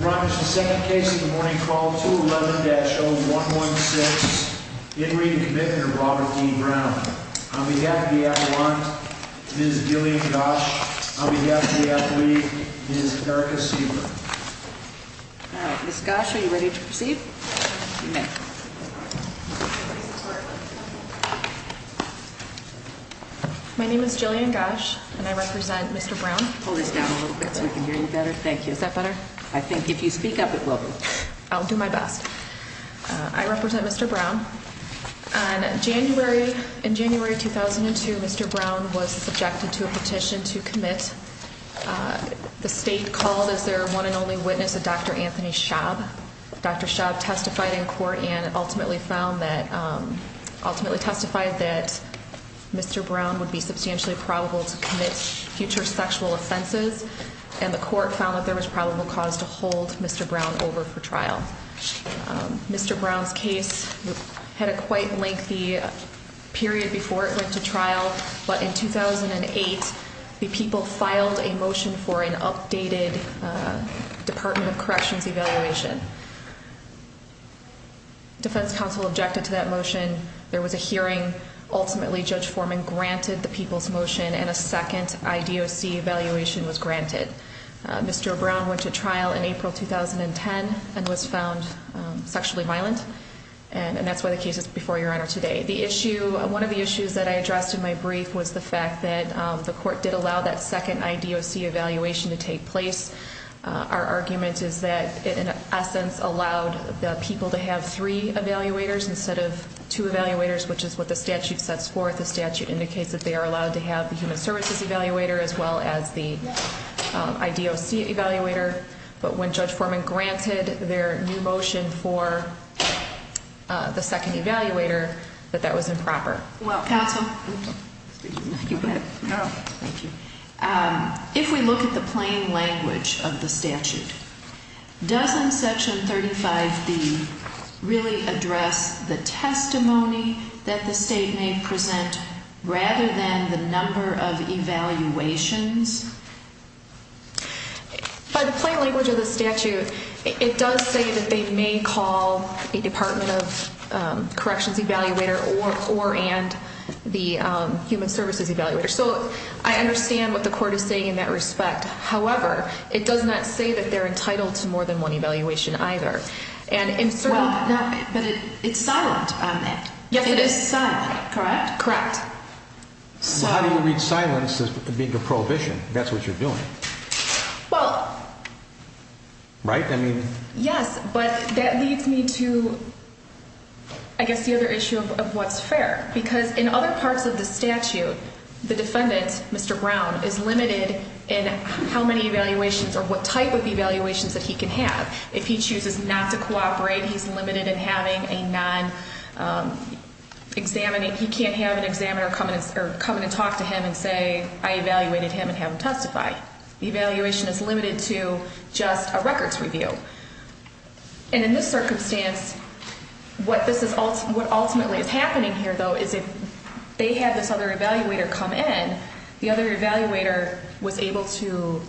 is the second case of the morning called 211-0116. In re Commitment of Robert E. Brown. On behalf of the Adelante, Ms. Jillian Gosch. On behalf of the athlete, Ms. Erica Siever. Ms. Gosch, are you ready to proceed? My name is Jillian Gosch and I represent Mr. Brown. Hold this down a little bit so we can hear you better. Thank you. Is that better? I think if you speak up it will be. I'll do my best. I represent Mr. Brown. On January, in January 2002, Mr. Brown was subjected to a petition to commit. The state called as their one and only witness a Dr. Anthony Schaub. Dr. Schaub testified in court and ultimately found that, ultimately testified that Mr. Brown would be substantially probable to commit future sexual offenses. And the court found that there was probable cause to hold Mr. Brown over for trial. Mr. Brown's case had a quite lengthy period before it went to trial. But in 2008, the people filed a motion for an updated Department of Corrections evaluation. Defense counsel objected to that motion. There was a hearing. Ultimately, Judge Foreman granted the people's motion and a second IDOC evaluation was granted. Mr. Brown went to trial in April 2010 and was found sexually violent. And that's why the case is before your honor today. One of the issues that I addressed in my brief was the fact that the court did allow that second IDOC evaluation to take place. Our argument is that it, in essence, allowed the people to have three evaluators instead of two evaluators, which is what the statute sets forth. The statute indicates that they are allowed to have the human services evaluator as well as the IDOC evaluator. But when Judge Foreman granted their new motion for the second evaluator, that that was improper. Counsel? Thank you. If we look at the plain language of the statute, doesn't Section 35B really address the testimony that the state may present rather than the number of evaluations? By the plain language of the statute, it does say that they may call a Department of Corrections evaluator or and the human services evaluator. So I understand what the court is saying in that respect. However, it does not say that they're entitled to more than one evaluation either. But it's silent on that. Yes, it is. It is silent, correct? Correct. How do you read silence as being a prohibition? That's what you're doing. Well... Right? I mean... Yes, but that leads me to, I guess, the other issue of what's fair. Because in other parts of the statute, the defendant, Mr. Brown, is limited in how many evaluations or what type of evaluations that he can have. If he chooses not to cooperate, he's limited in having a non-examining... He can't have an examiner come in and talk to him and say, I evaluated him and have him testify. The evaluation is limited to just a records review. And in this circumstance, what ultimately is happening here, though, is if they had this other evaluator come in, the other evaluator was able to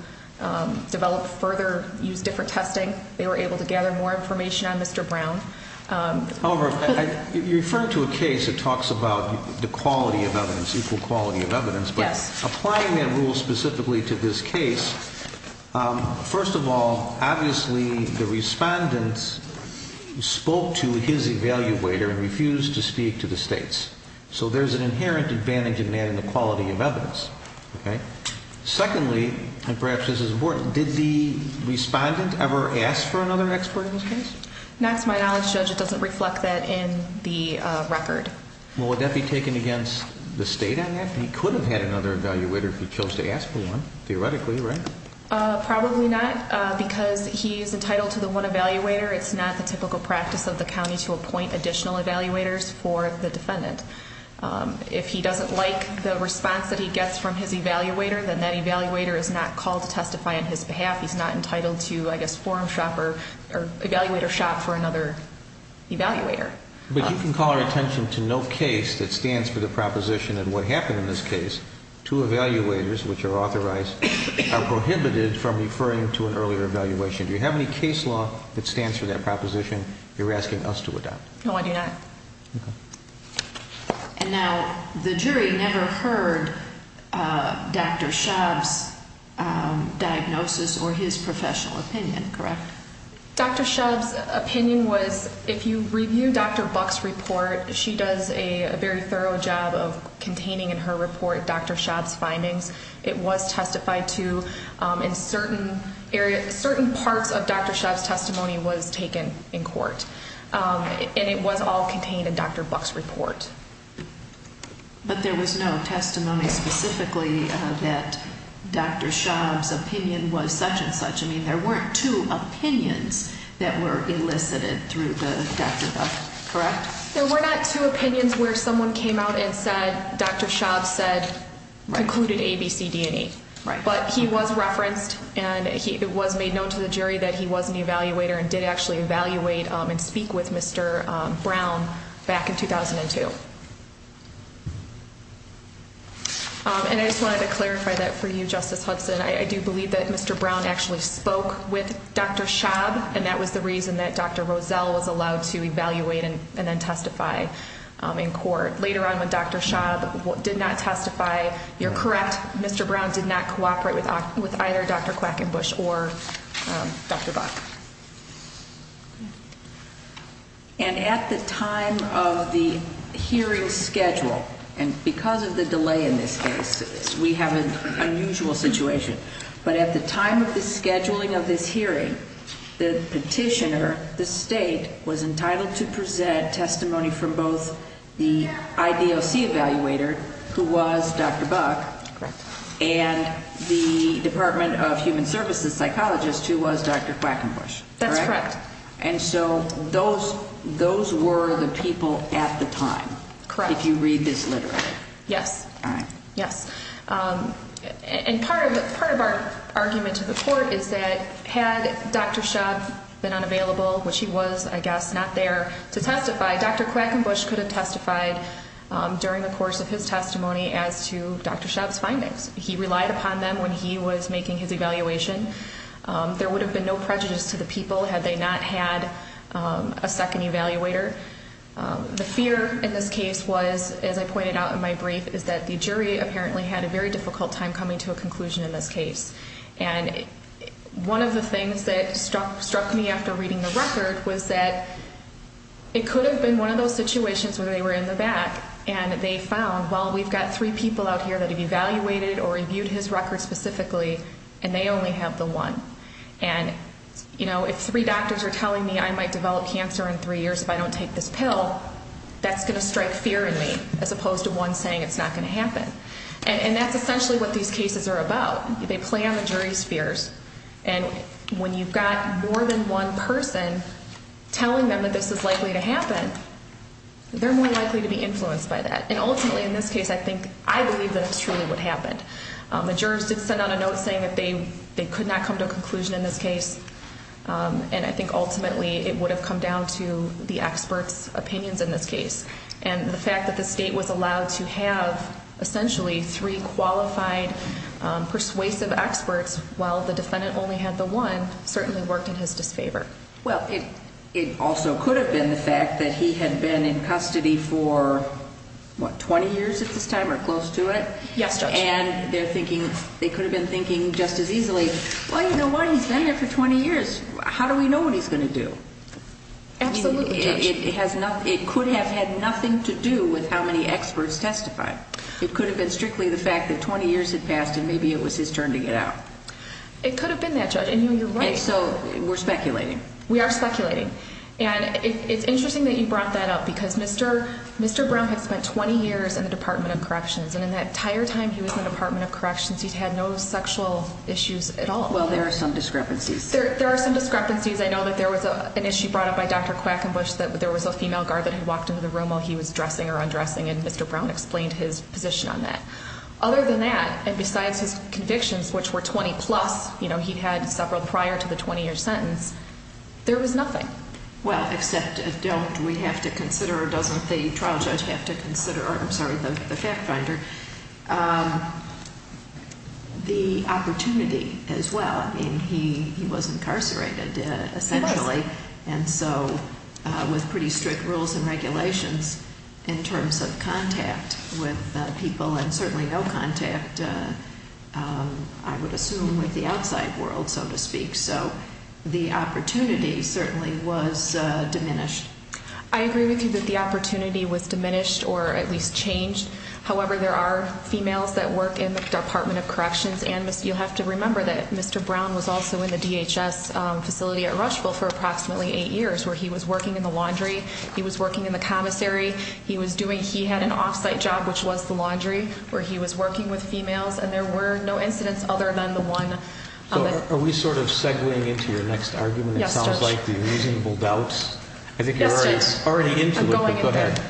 develop further, use different testing. They were able to gather more information on Mr. Brown. However, you're referring to a case that talks about the quality of evidence, equal quality of evidence. Yes. Applying that rule specifically to this case, first of all, obviously the respondent spoke to his evaluator and refused to speak to the state's. So there's an inherent advantage in that in the quality of evidence. Okay? Secondly, and perhaps this is important, did the respondent ever ask for another expert in this case? To my knowledge, Judge, it doesn't reflect that in the record. Well, would that be taken against the state on that? He could have had another evaluator if he chose to ask for one, theoretically, right? Probably not, because he is entitled to the one evaluator. It's not the typical practice of the county to appoint additional evaluators for the defendant. If he doesn't like the response that he gets from his evaluator, then that evaluator is not called to testify on his behalf. He's not entitled to, I guess, forum shop or evaluator shop for another evaluator. But you can call our attention to no case that stands for the proposition that what happened in this case, two evaluators, which are authorized, are prohibited from referring to an earlier evaluation. Do you have any case law that stands for that proposition you're asking us to adopt? No, I do not. Okay. And now the jury never heard Dr. Schaub's diagnosis or his professional opinion, correct? Dr. Schaub's opinion was, if you review Dr. Buck's report, she does a very thorough job of containing in her report Dr. Schaub's findings. It was testified to in certain areas. Certain parts of Dr. Schaub's testimony was taken in court, and it was all contained in Dr. Buck's report. But there was no testimony specifically that Dr. Schaub's opinion was such and such. I mean, there weren't two opinions that were elicited through Dr. Buck, correct? There were not two opinions where someone came out and said Dr. Schaub concluded A, B, C, D, and E. But he was referenced, and it was made known to the jury that he was an evaluator and did actually evaluate and speak with Mr. Brown back in 2002. And I just wanted to clarify that for you, Justice Hudson. I do believe that Mr. Brown actually spoke with Dr. Schaub, and that was the reason that Dr. Roselle was allowed to evaluate and then testify in court. Later on when Dr. Schaub did not testify, you're correct, Mr. Brown did not cooperate with either Dr. Quackenbush or Dr. Buck. And at the time of the hearing schedule, and because of the delay in this case, we have an unusual situation, but at the time of the scheduling of this hearing, the petitioner, the state, was entitled to present testimony from both the IDOC evaluator, who was Dr. Buck, and the Department of Human Services psychologist, who was Dr. Quackenbush. That's correct. And so those were the people at the time. Correct. If you read this literally. Yes. All right. Yes. And part of our argument to the court is that had Dr. Schaub been unavailable, which he was, I guess, not there to testify, Dr. Quackenbush could have testified during the course of his testimony as to Dr. Schaub's findings. He relied upon them when he was making his evaluation. There would have been no prejudice to the people had they not had a second evaluator. The fear in this case was, as I pointed out in my brief, is that the jury apparently had a very difficult time coming to a conclusion in this case. And one of the things that struck me after reading the record was that it could have been one of those situations where they were in the back and they found, well, we've got three people out here that have evaluated or reviewed his record specifically, and they only have the one. And, you know, if three doctors are telling me I might develop cancer in three years if I don't take this pill, that's going to strike fear in me as opposed to one saying it's not going to happen. And that's essentially what these cases are about. They play on the jury's fears. And when you've got more than one person telling them that this is likely to happen, they're more likely to be influenced by that. And ultimately, in this case, I think I believe that it's truly what happened. The jurors did send out a note saying that they could not come to a conclusion in this case, and I think ultimately it would have come down to the experts' opinions in this case. And the fact that the state was allowed to have essentially three qualified persuasive experts while the defendant only had the one certainly worked in his disfavor. Well, it also could have been the fact that he had been in custody for, what, 20 years at this time or close to it? Yes, Judge. And they're thinking, they could have been thinking just as easily, well, you know what, he's been there for 20 years. How do we know what he's going to do? Absolutely, Judge. It could have had nothing to do with how many experts testified. It could have been strictly the fact that 20 years had passed and maybe it was his turn to get out. It could have been that, Judge, and you're right. So we're speculating. We are speculating. And it's interesting that you brought that up because Mr. Brown had spent 20 years in the Department of Corrections, and in that entire time he was in the Department of Corrections, he's had no sexual issues at all. Well, there are some discrepancies. There are some discrepancies. I know that there was an issue brought up by Dr. Quackenbush, that there was a female guard that had walked into the room while he was dressing or undressing, and Mr. Brown explained his position on that. Other than that, and besides his convictions, which were 20-plus, you know, he'd had several prior to the 20-year sentence, there was nothing. Well, except don't we have to consider, or doesn't the trial judge have to consider, or I'm sorry, the fact finder, the opportunity as well. I mean, he was incarcerated, essentially. He was. And so with pretty strict rules and regulations in terms of contact with people, and certainly no contact, I would assume, with the outside world, so to speak. So the opportunity certainly was diminished. I agree with you that the opportunity was diminished or at least changed. However, there are females that work in the Department of Corrections, and you'll have to remember that Mr. Brown was also in the DHS facility at Rushville for approximately eight years where he was working in the laundry, he was working in the commissary, he was doing, he had an off-site job, which was the laundry, where he was working with females, and there were no incidents other than the one. So are we sort of segwaying into your next argument? Yes, Judge. It sounds like the reasonable doubts. Yes, Judge. I think you're already into it. I'm going into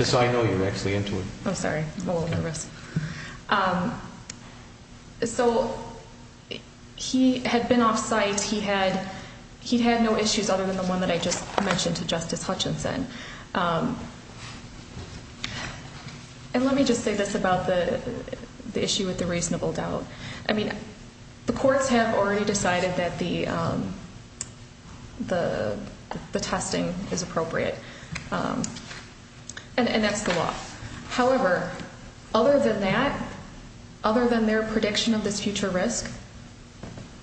it. So I know you're actually into it. I'm sorry. I'm a little nervous. So he had been off-site. He had no issues other than the one that I just mentioned to Justice Hutchinson. And let me just say this about the issue with the reasonable doubt. I mean, the courts have already decided that the testing is appropriate, and that's the law. However, other than that, other than their prediction of this future risk,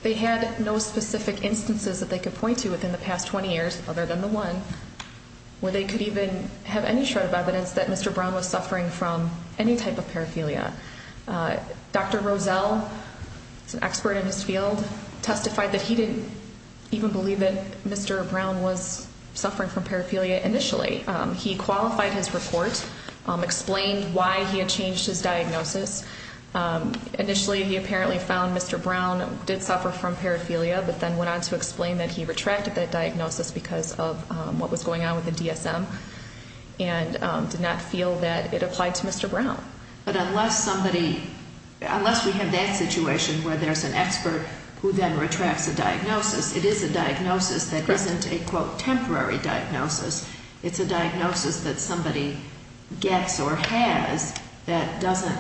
they had no specific instances that they could point to within the past 20 years other than the one where they could even have any shred of evidence that Mr. Brown was suffering from any type of paraphilia. Dr. Rozelle, who's an expert in his field, testified that he didn't even believe that Mr. Brown was suffering from paraphilia initially. He qualified his report, explained why he had changed his diagnosis. Initially, he apparently found Mr. Brown did suffer from paraphilia, but then went on to explain that he retracted that diagnosis because of what was going on with the DSM and did not feel that it applied to Mr. Brown. But unless somebody, unless we have that situation where there's an expert who then retracts a diagnosis, it is a diagnosis that isn't a, quote, temporary diagnosis. It's a diagnosis that somebody gets or has that doesn't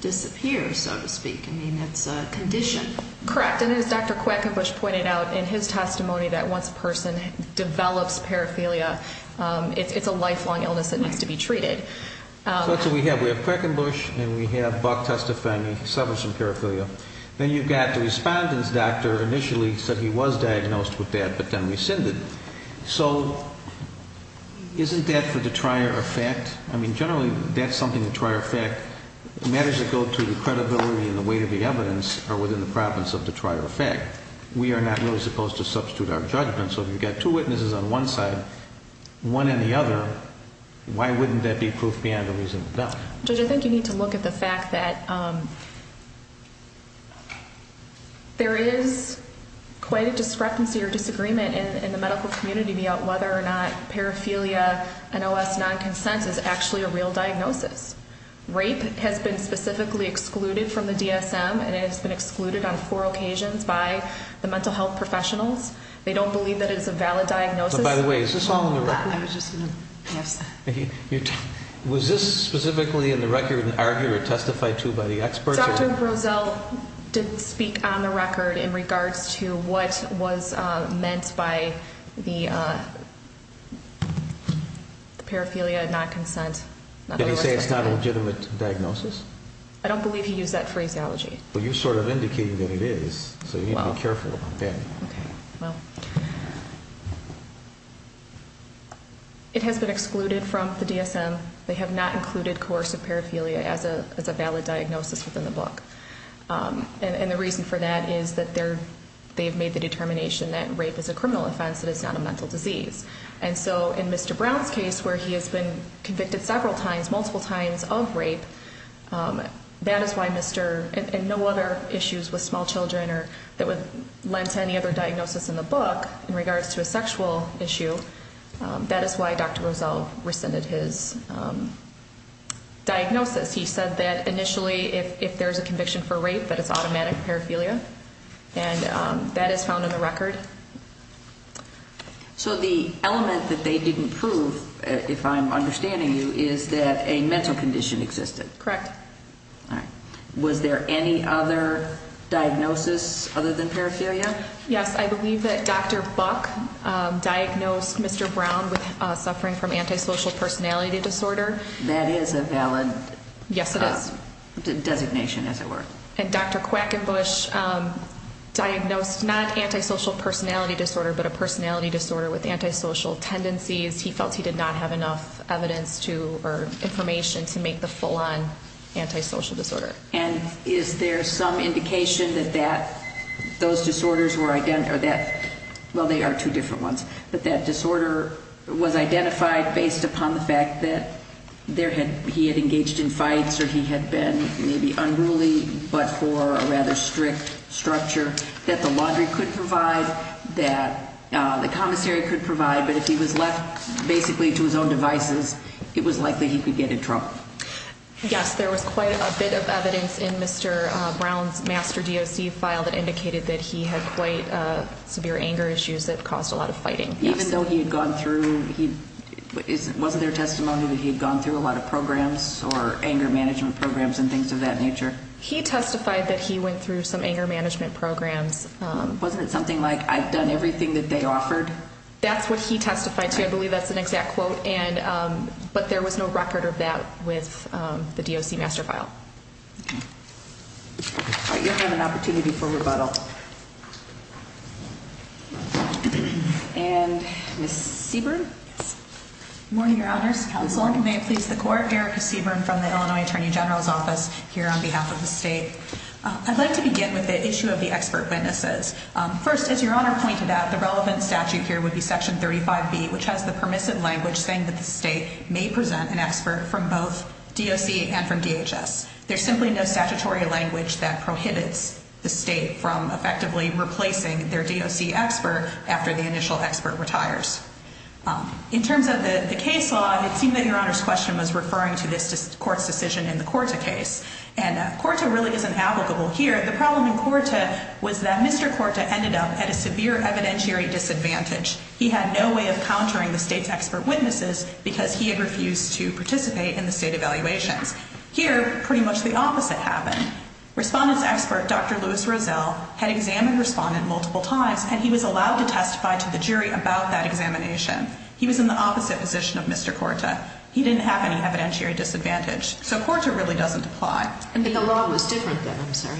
disappear, so to speak. I mean, it's a condition. Correct, and as Dr. Quackenbush pointed out in his testimony that once a person develops paraphilia, it's a lifelong illness that needs to be treated. So that's what we have. We have Quackenbush, and we have Buck testifying he suffers from paraphilia. Then you've got the respondent's doctor initially said he was diagnosed with that but then rescinded. So isn't that for the trier effect? I mean, generally, that's something the trier effect matters that go to the credibility and the weight of the evidence are within the province of the trier effect. We are not really supposed to substitute our judgment. So if you've got two witnesses on one side, one and the other, why wouldn't that be proof beyond a reasonable doubt? Judge, I think you need to look at the fact that there is quite a discrepancy or disagreement in the medical community about whether or not paraphilia and OS non-consensus is actually a real diagnosis. Rape has been specifically excluded from the DSM, and it has been excluded on four occasions by the mental health professionals. They don't believe that it is a valid diagnosis. By the way, is this all in the record? I was just going to ask that. Was this specifically in the record and argued or testified to by the experts? Dr. Grozel didn't speak on the record in regards to what was meant by the paraphilia and non-consent. Did he say it's not a legitimate diagnosis? I don't believe he used that phraseology. Well, you're sort of indicating that it is, so you need to be careful about that. Okay, well, it has been excluded from the DSM. They have not included coercive paraphilia as a valid diagnosis within the book. And the reason for that is that they've made the determination that rape is a criminal offense, that it's not a mental disease. And so in Mr. Brown's case, where he has been convicted several times, multiple times of rape, and no other issues with small children that would lend to any other diagnosis in the book in regards to a sexual issue, that is why Dr. Grozel rescinded his diagnosis. He said that initially, if there's a conviction for rape, that it's automatic paraphilia. And that is found in the record. So the element that they didn't prove, if I'm understanding you, is that a mental condition existed. Correct. All right. Was there any other diagnosis other than paraphilia? Yes, I believe that Dr. Buck diagnosed Mr. Brown with suffering from antisocial personality disorder. That is a valid designation, as it were. And Dr. Quackenbush diagnosed not antisocial personality disorder, but a personality disorder with antisocial tendencies. He felt he did not have enough evidence to or information to make the full-on antisocial disorder. And is there some indication that those disorders were identified, or that, well, they are two different ones, but that disorder was identified based upon the fact that he had engaged in fights or he had been maybe unruly but for a rather strict structure that the laundry could provide, that the commissary could provide, but if he was left basically to his own devices, it was likely he could get in trouble. Yes, there was quite a bit of evidence in Mr. Brown's master DOC file that indicated that he had quite severe anger issues that caused a lot of fighting. Even though he had gone through, wasn't there testimony that he had gone through a lot of programs or anger management programs and things of that nature? He testified that he went through some anger management programs. Wasn't it something like, I've done everything that they offered? That's what he testified to. I believe that's an exact quote, but there was no record of that with the DOC master file. Okay. All right, you'll have an opportunity for rebuttal. And Ms. Seaborn? Yes. Good morning, Your Honors, Counsel. Good morning. May it please the Court. Erica Seaborn from the Illinois Attorney General's Office here on behalf of the state. I'd like to begin with the issue of the expert witnesses. First, as Your Honor pointed out, the relevant statute here would be Section 35B, which has the permissive language saying that the state may present an expert from both DOC and from DHS. There's simply no statutory language that prohibits the state from effectively replacing their DOC expert after the initial expert retires. In terms of the case law, it seemed that Your Honor's question was referring to this Court's decision in the Korta case. And Korta really isn't applicable here. The problem in Korta was that Mr. Korta ended up at a severe evidentiary disadvantage. He had no way of countering the state's expert witnesses because he had refused to participate in the state evaluations. Here, pretty much the opposite happened. Respondent's expert, Dr. Louis Rozell, had examined respondent multiple times, and he was allowed to testify to the jury about that examination. He was in the opposite position of Mr. Korta. He didn't have any evidentiary disadvantage. So Korta really doesn't apply. But the law was different then, I'm sorry.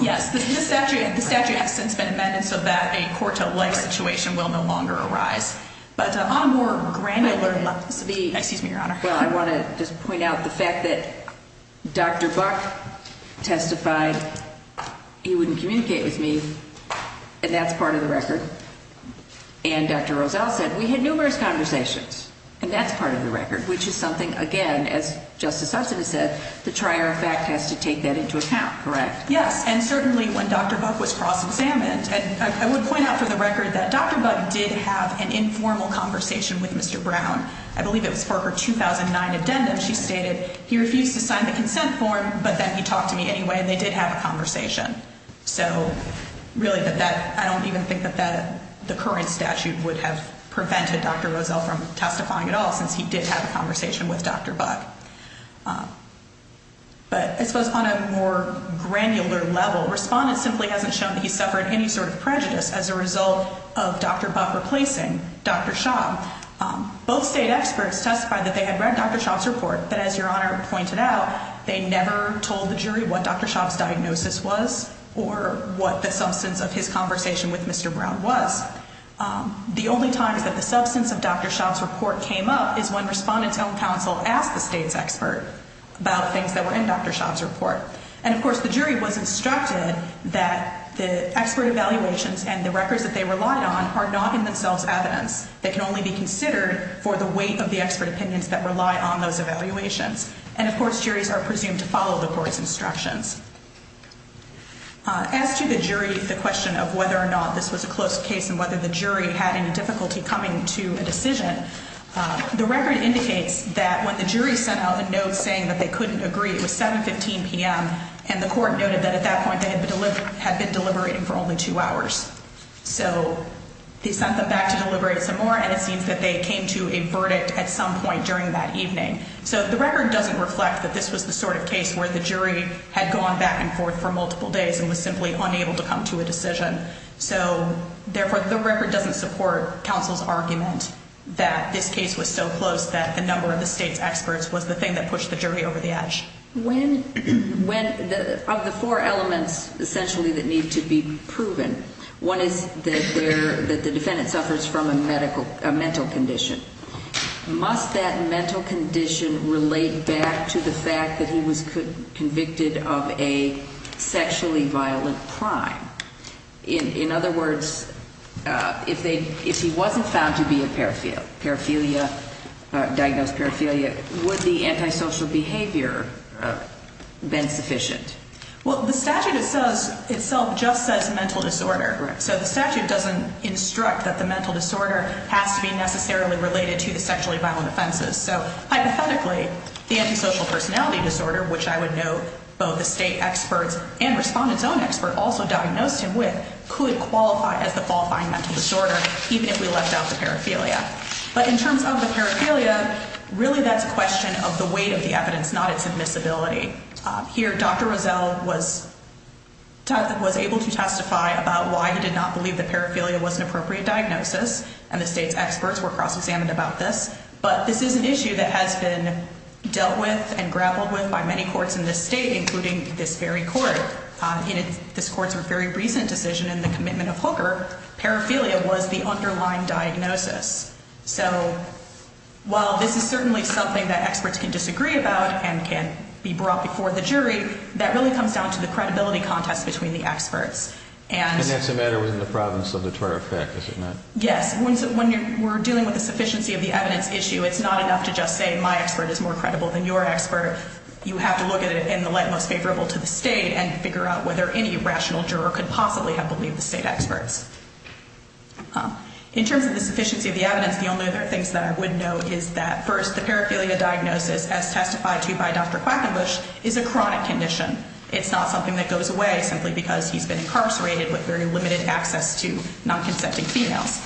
Yes, the statute has since been amended so that a Korta-like situation will no longer arise. But on a more granular level, excuse me, Your Honor. Well, I want to just point out the fact that Dr. Buck testified he wouldn't communicate with me, and that's part of the record. And Dr. Rozell said we had numerous conversations, and that's part of the record, which is something, again, as Justice Hudson has said, the trier of fact has to take that into account, correct? Yes, and certainly when Dr. Buck was cross-examined, I would point out for the record that Dr. Buck did have an informal conversation with Mr. Brown. I believe it was for her 2009 addendum. She stated he refused to sign the consent form, but then he talked to me anyway, and they did have a conversation. So really, I don't even think that the current statute would have prevented Dr. Rozell from testifying at all since he did have a conversation with Dr. Buck. But I suppose on a more granular level, respondents simply haven't shown that he suffered any sort of prejudice as a result of Dr. Buck replacing Dr. Schaub. Both state experts testified that they had read Dr. Schaub's report, but as Your Honor pointed out, they never told the jury what Dr. Schaub's diagnosis was or what the substance of his conversation with Mr. Brown was. The only time that the substance of Dr. Schaub's report came up is when respondents' own counsel asked the state's expert about things that were in Dr. Schaub's report. And of course, the jury was instructed that the expert evaluations and the records that they relied on are not in themselves evidence. They can only be considered for the weight of the expert opinions that rely on those evaluations. And of course, juries are presumed to follow the court's instructions. As to the jury, the question of whether or not this was a close case and whether the jury had any difficulty coming to a decision, the record indicates that when the jury sent out a note saying that they couldn't agree, it was 7.15 p.m., and the court noted that at that point they had been deliberating for only two hours. So they sent them back to deliberate some more, and it seems that they came to a verdict at some point during that evening. So the record doesn't reflect that this was the sort of case where the jury had gone back and forth for multiple days and was simply unable to come to a decision. So, therefore, the record doesn't support counsel's argument that this case was so close that the number of the state's experts was the thing that pushed the jury over the edge. When, of the four elements essentially that need to be proven, one is that the defendant suffers from a mental condition. Must that mental condition relate back to the fact that he was convicted of a sexually violent crime? In other words, if he wasn't found to be a paraphilia, diagnosed paraphilia, would the antisocial behavior have been sufficient? Well, the statute itself just says mental disorder. So the statute doesn't instruct that the mental disorder has to be necessarily related to the sexually violent offenses. So, hypothetically, the antisocial personality disorder, which I would note both the state experts and respondent's own expert also diagnosed him with, could qualify as the qualifying mental disorder even if we left out the paraphilia. But in terms of the paraphilia, really that's a question of the weight of the evidence, not its admissibility. Here, Dr. Rozelle was able to testify about why he did not believe that paraphilia was an appropriate diagnosis, and the state's experts were cross-examined about this. But this is an issue that has been dealt with and grappled with by many courts in this state, including this very court. In this court's very recent decision in the commitment of Hooker, paraphilia was the underlying diagnosis. So while this is certainly something that experts can disagree about and can be brought before the jury, that really comes down to the credibility contest between the experts. And that's a matter within the province of the twelfth act, is it not? Yes. When we're dealing with the sufficiency of the evidence issue, it's not enough to just say my expert is more credible than your expert. You have to look at it in the light most favorable to the state and figure out whether any rational juror could possibly have believed the state experts. In terms of the sufficiency of the evidence, the only other things that I would note is that first, the paraphilia diagnosis, as testified to by Dr. Quackenbush, is a chronic condition. It's not something that goes away simply because he's been incarcerated with very limited access to non-consenting females.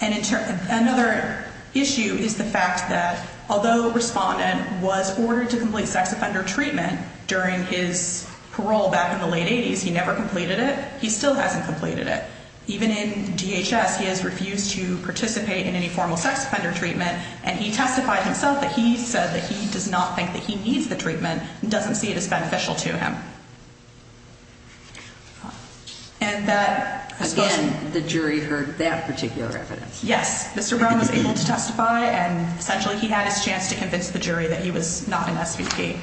And another issue is the fact that although Respondent was ordered to complete sex offender treatment during his parole back in the late 80s, he never completed it, he still hasn't completed it. Even in DHS, he has refused to participate in any formal sex offender treatment and he testified himself that he said that he does not think that he needs the treatment and doesn't see it as beneficial to him. Again, the jury heard that particular evidence. Yes. Mr. Brown was able to testify and essentially he had his chance to convince the jury that he was not an SVP.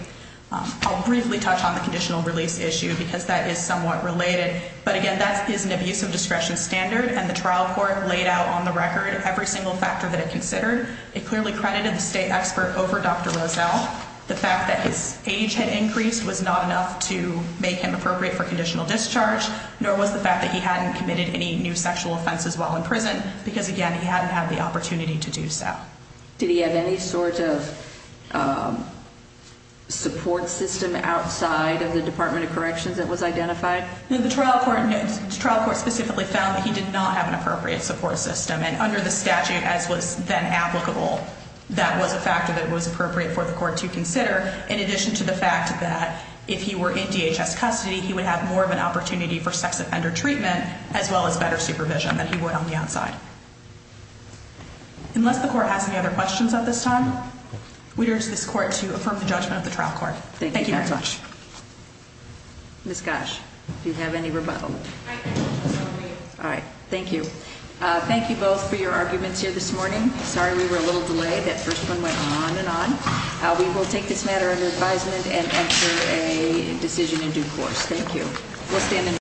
I'll briefly touch on the conditional release issue because that is somewhat related. But again, that is an abuse of discretion standard and the trial court laid out on the record every single factor that it considered. It clearly credited the state expert over Dr. Roselle. The fact that his age had increased was not enough to make him appropriate for conditional discharge, nor was the fact that he hadn't committed any new sexual offenses while in prison because again, he hadn't had the opportunity to do so. Did he have any sort of support system outside of the Department of Corrections that was identified? The trial court specifically found that he did not have an appropriate support system and under the statute as was then applicable, that was a factor that was appropriate for the court to consider in addition to the fact that if he were in DHS custody, he would have more of an opportunity for sex offender treatment as well as better supervision than he would on the outside. Unless the court has any other questions at this time, we urge this court to affirm the judgment of the trial court. Thank you very much. Ms. Gosch, do you have any rebuttal? I do. All right, thank you. Thank you both for your arguments here this morning. Sorry we were a little delayed. That first one went on and on. We will take this matter under advisement and enter a decision in due course. Thank you.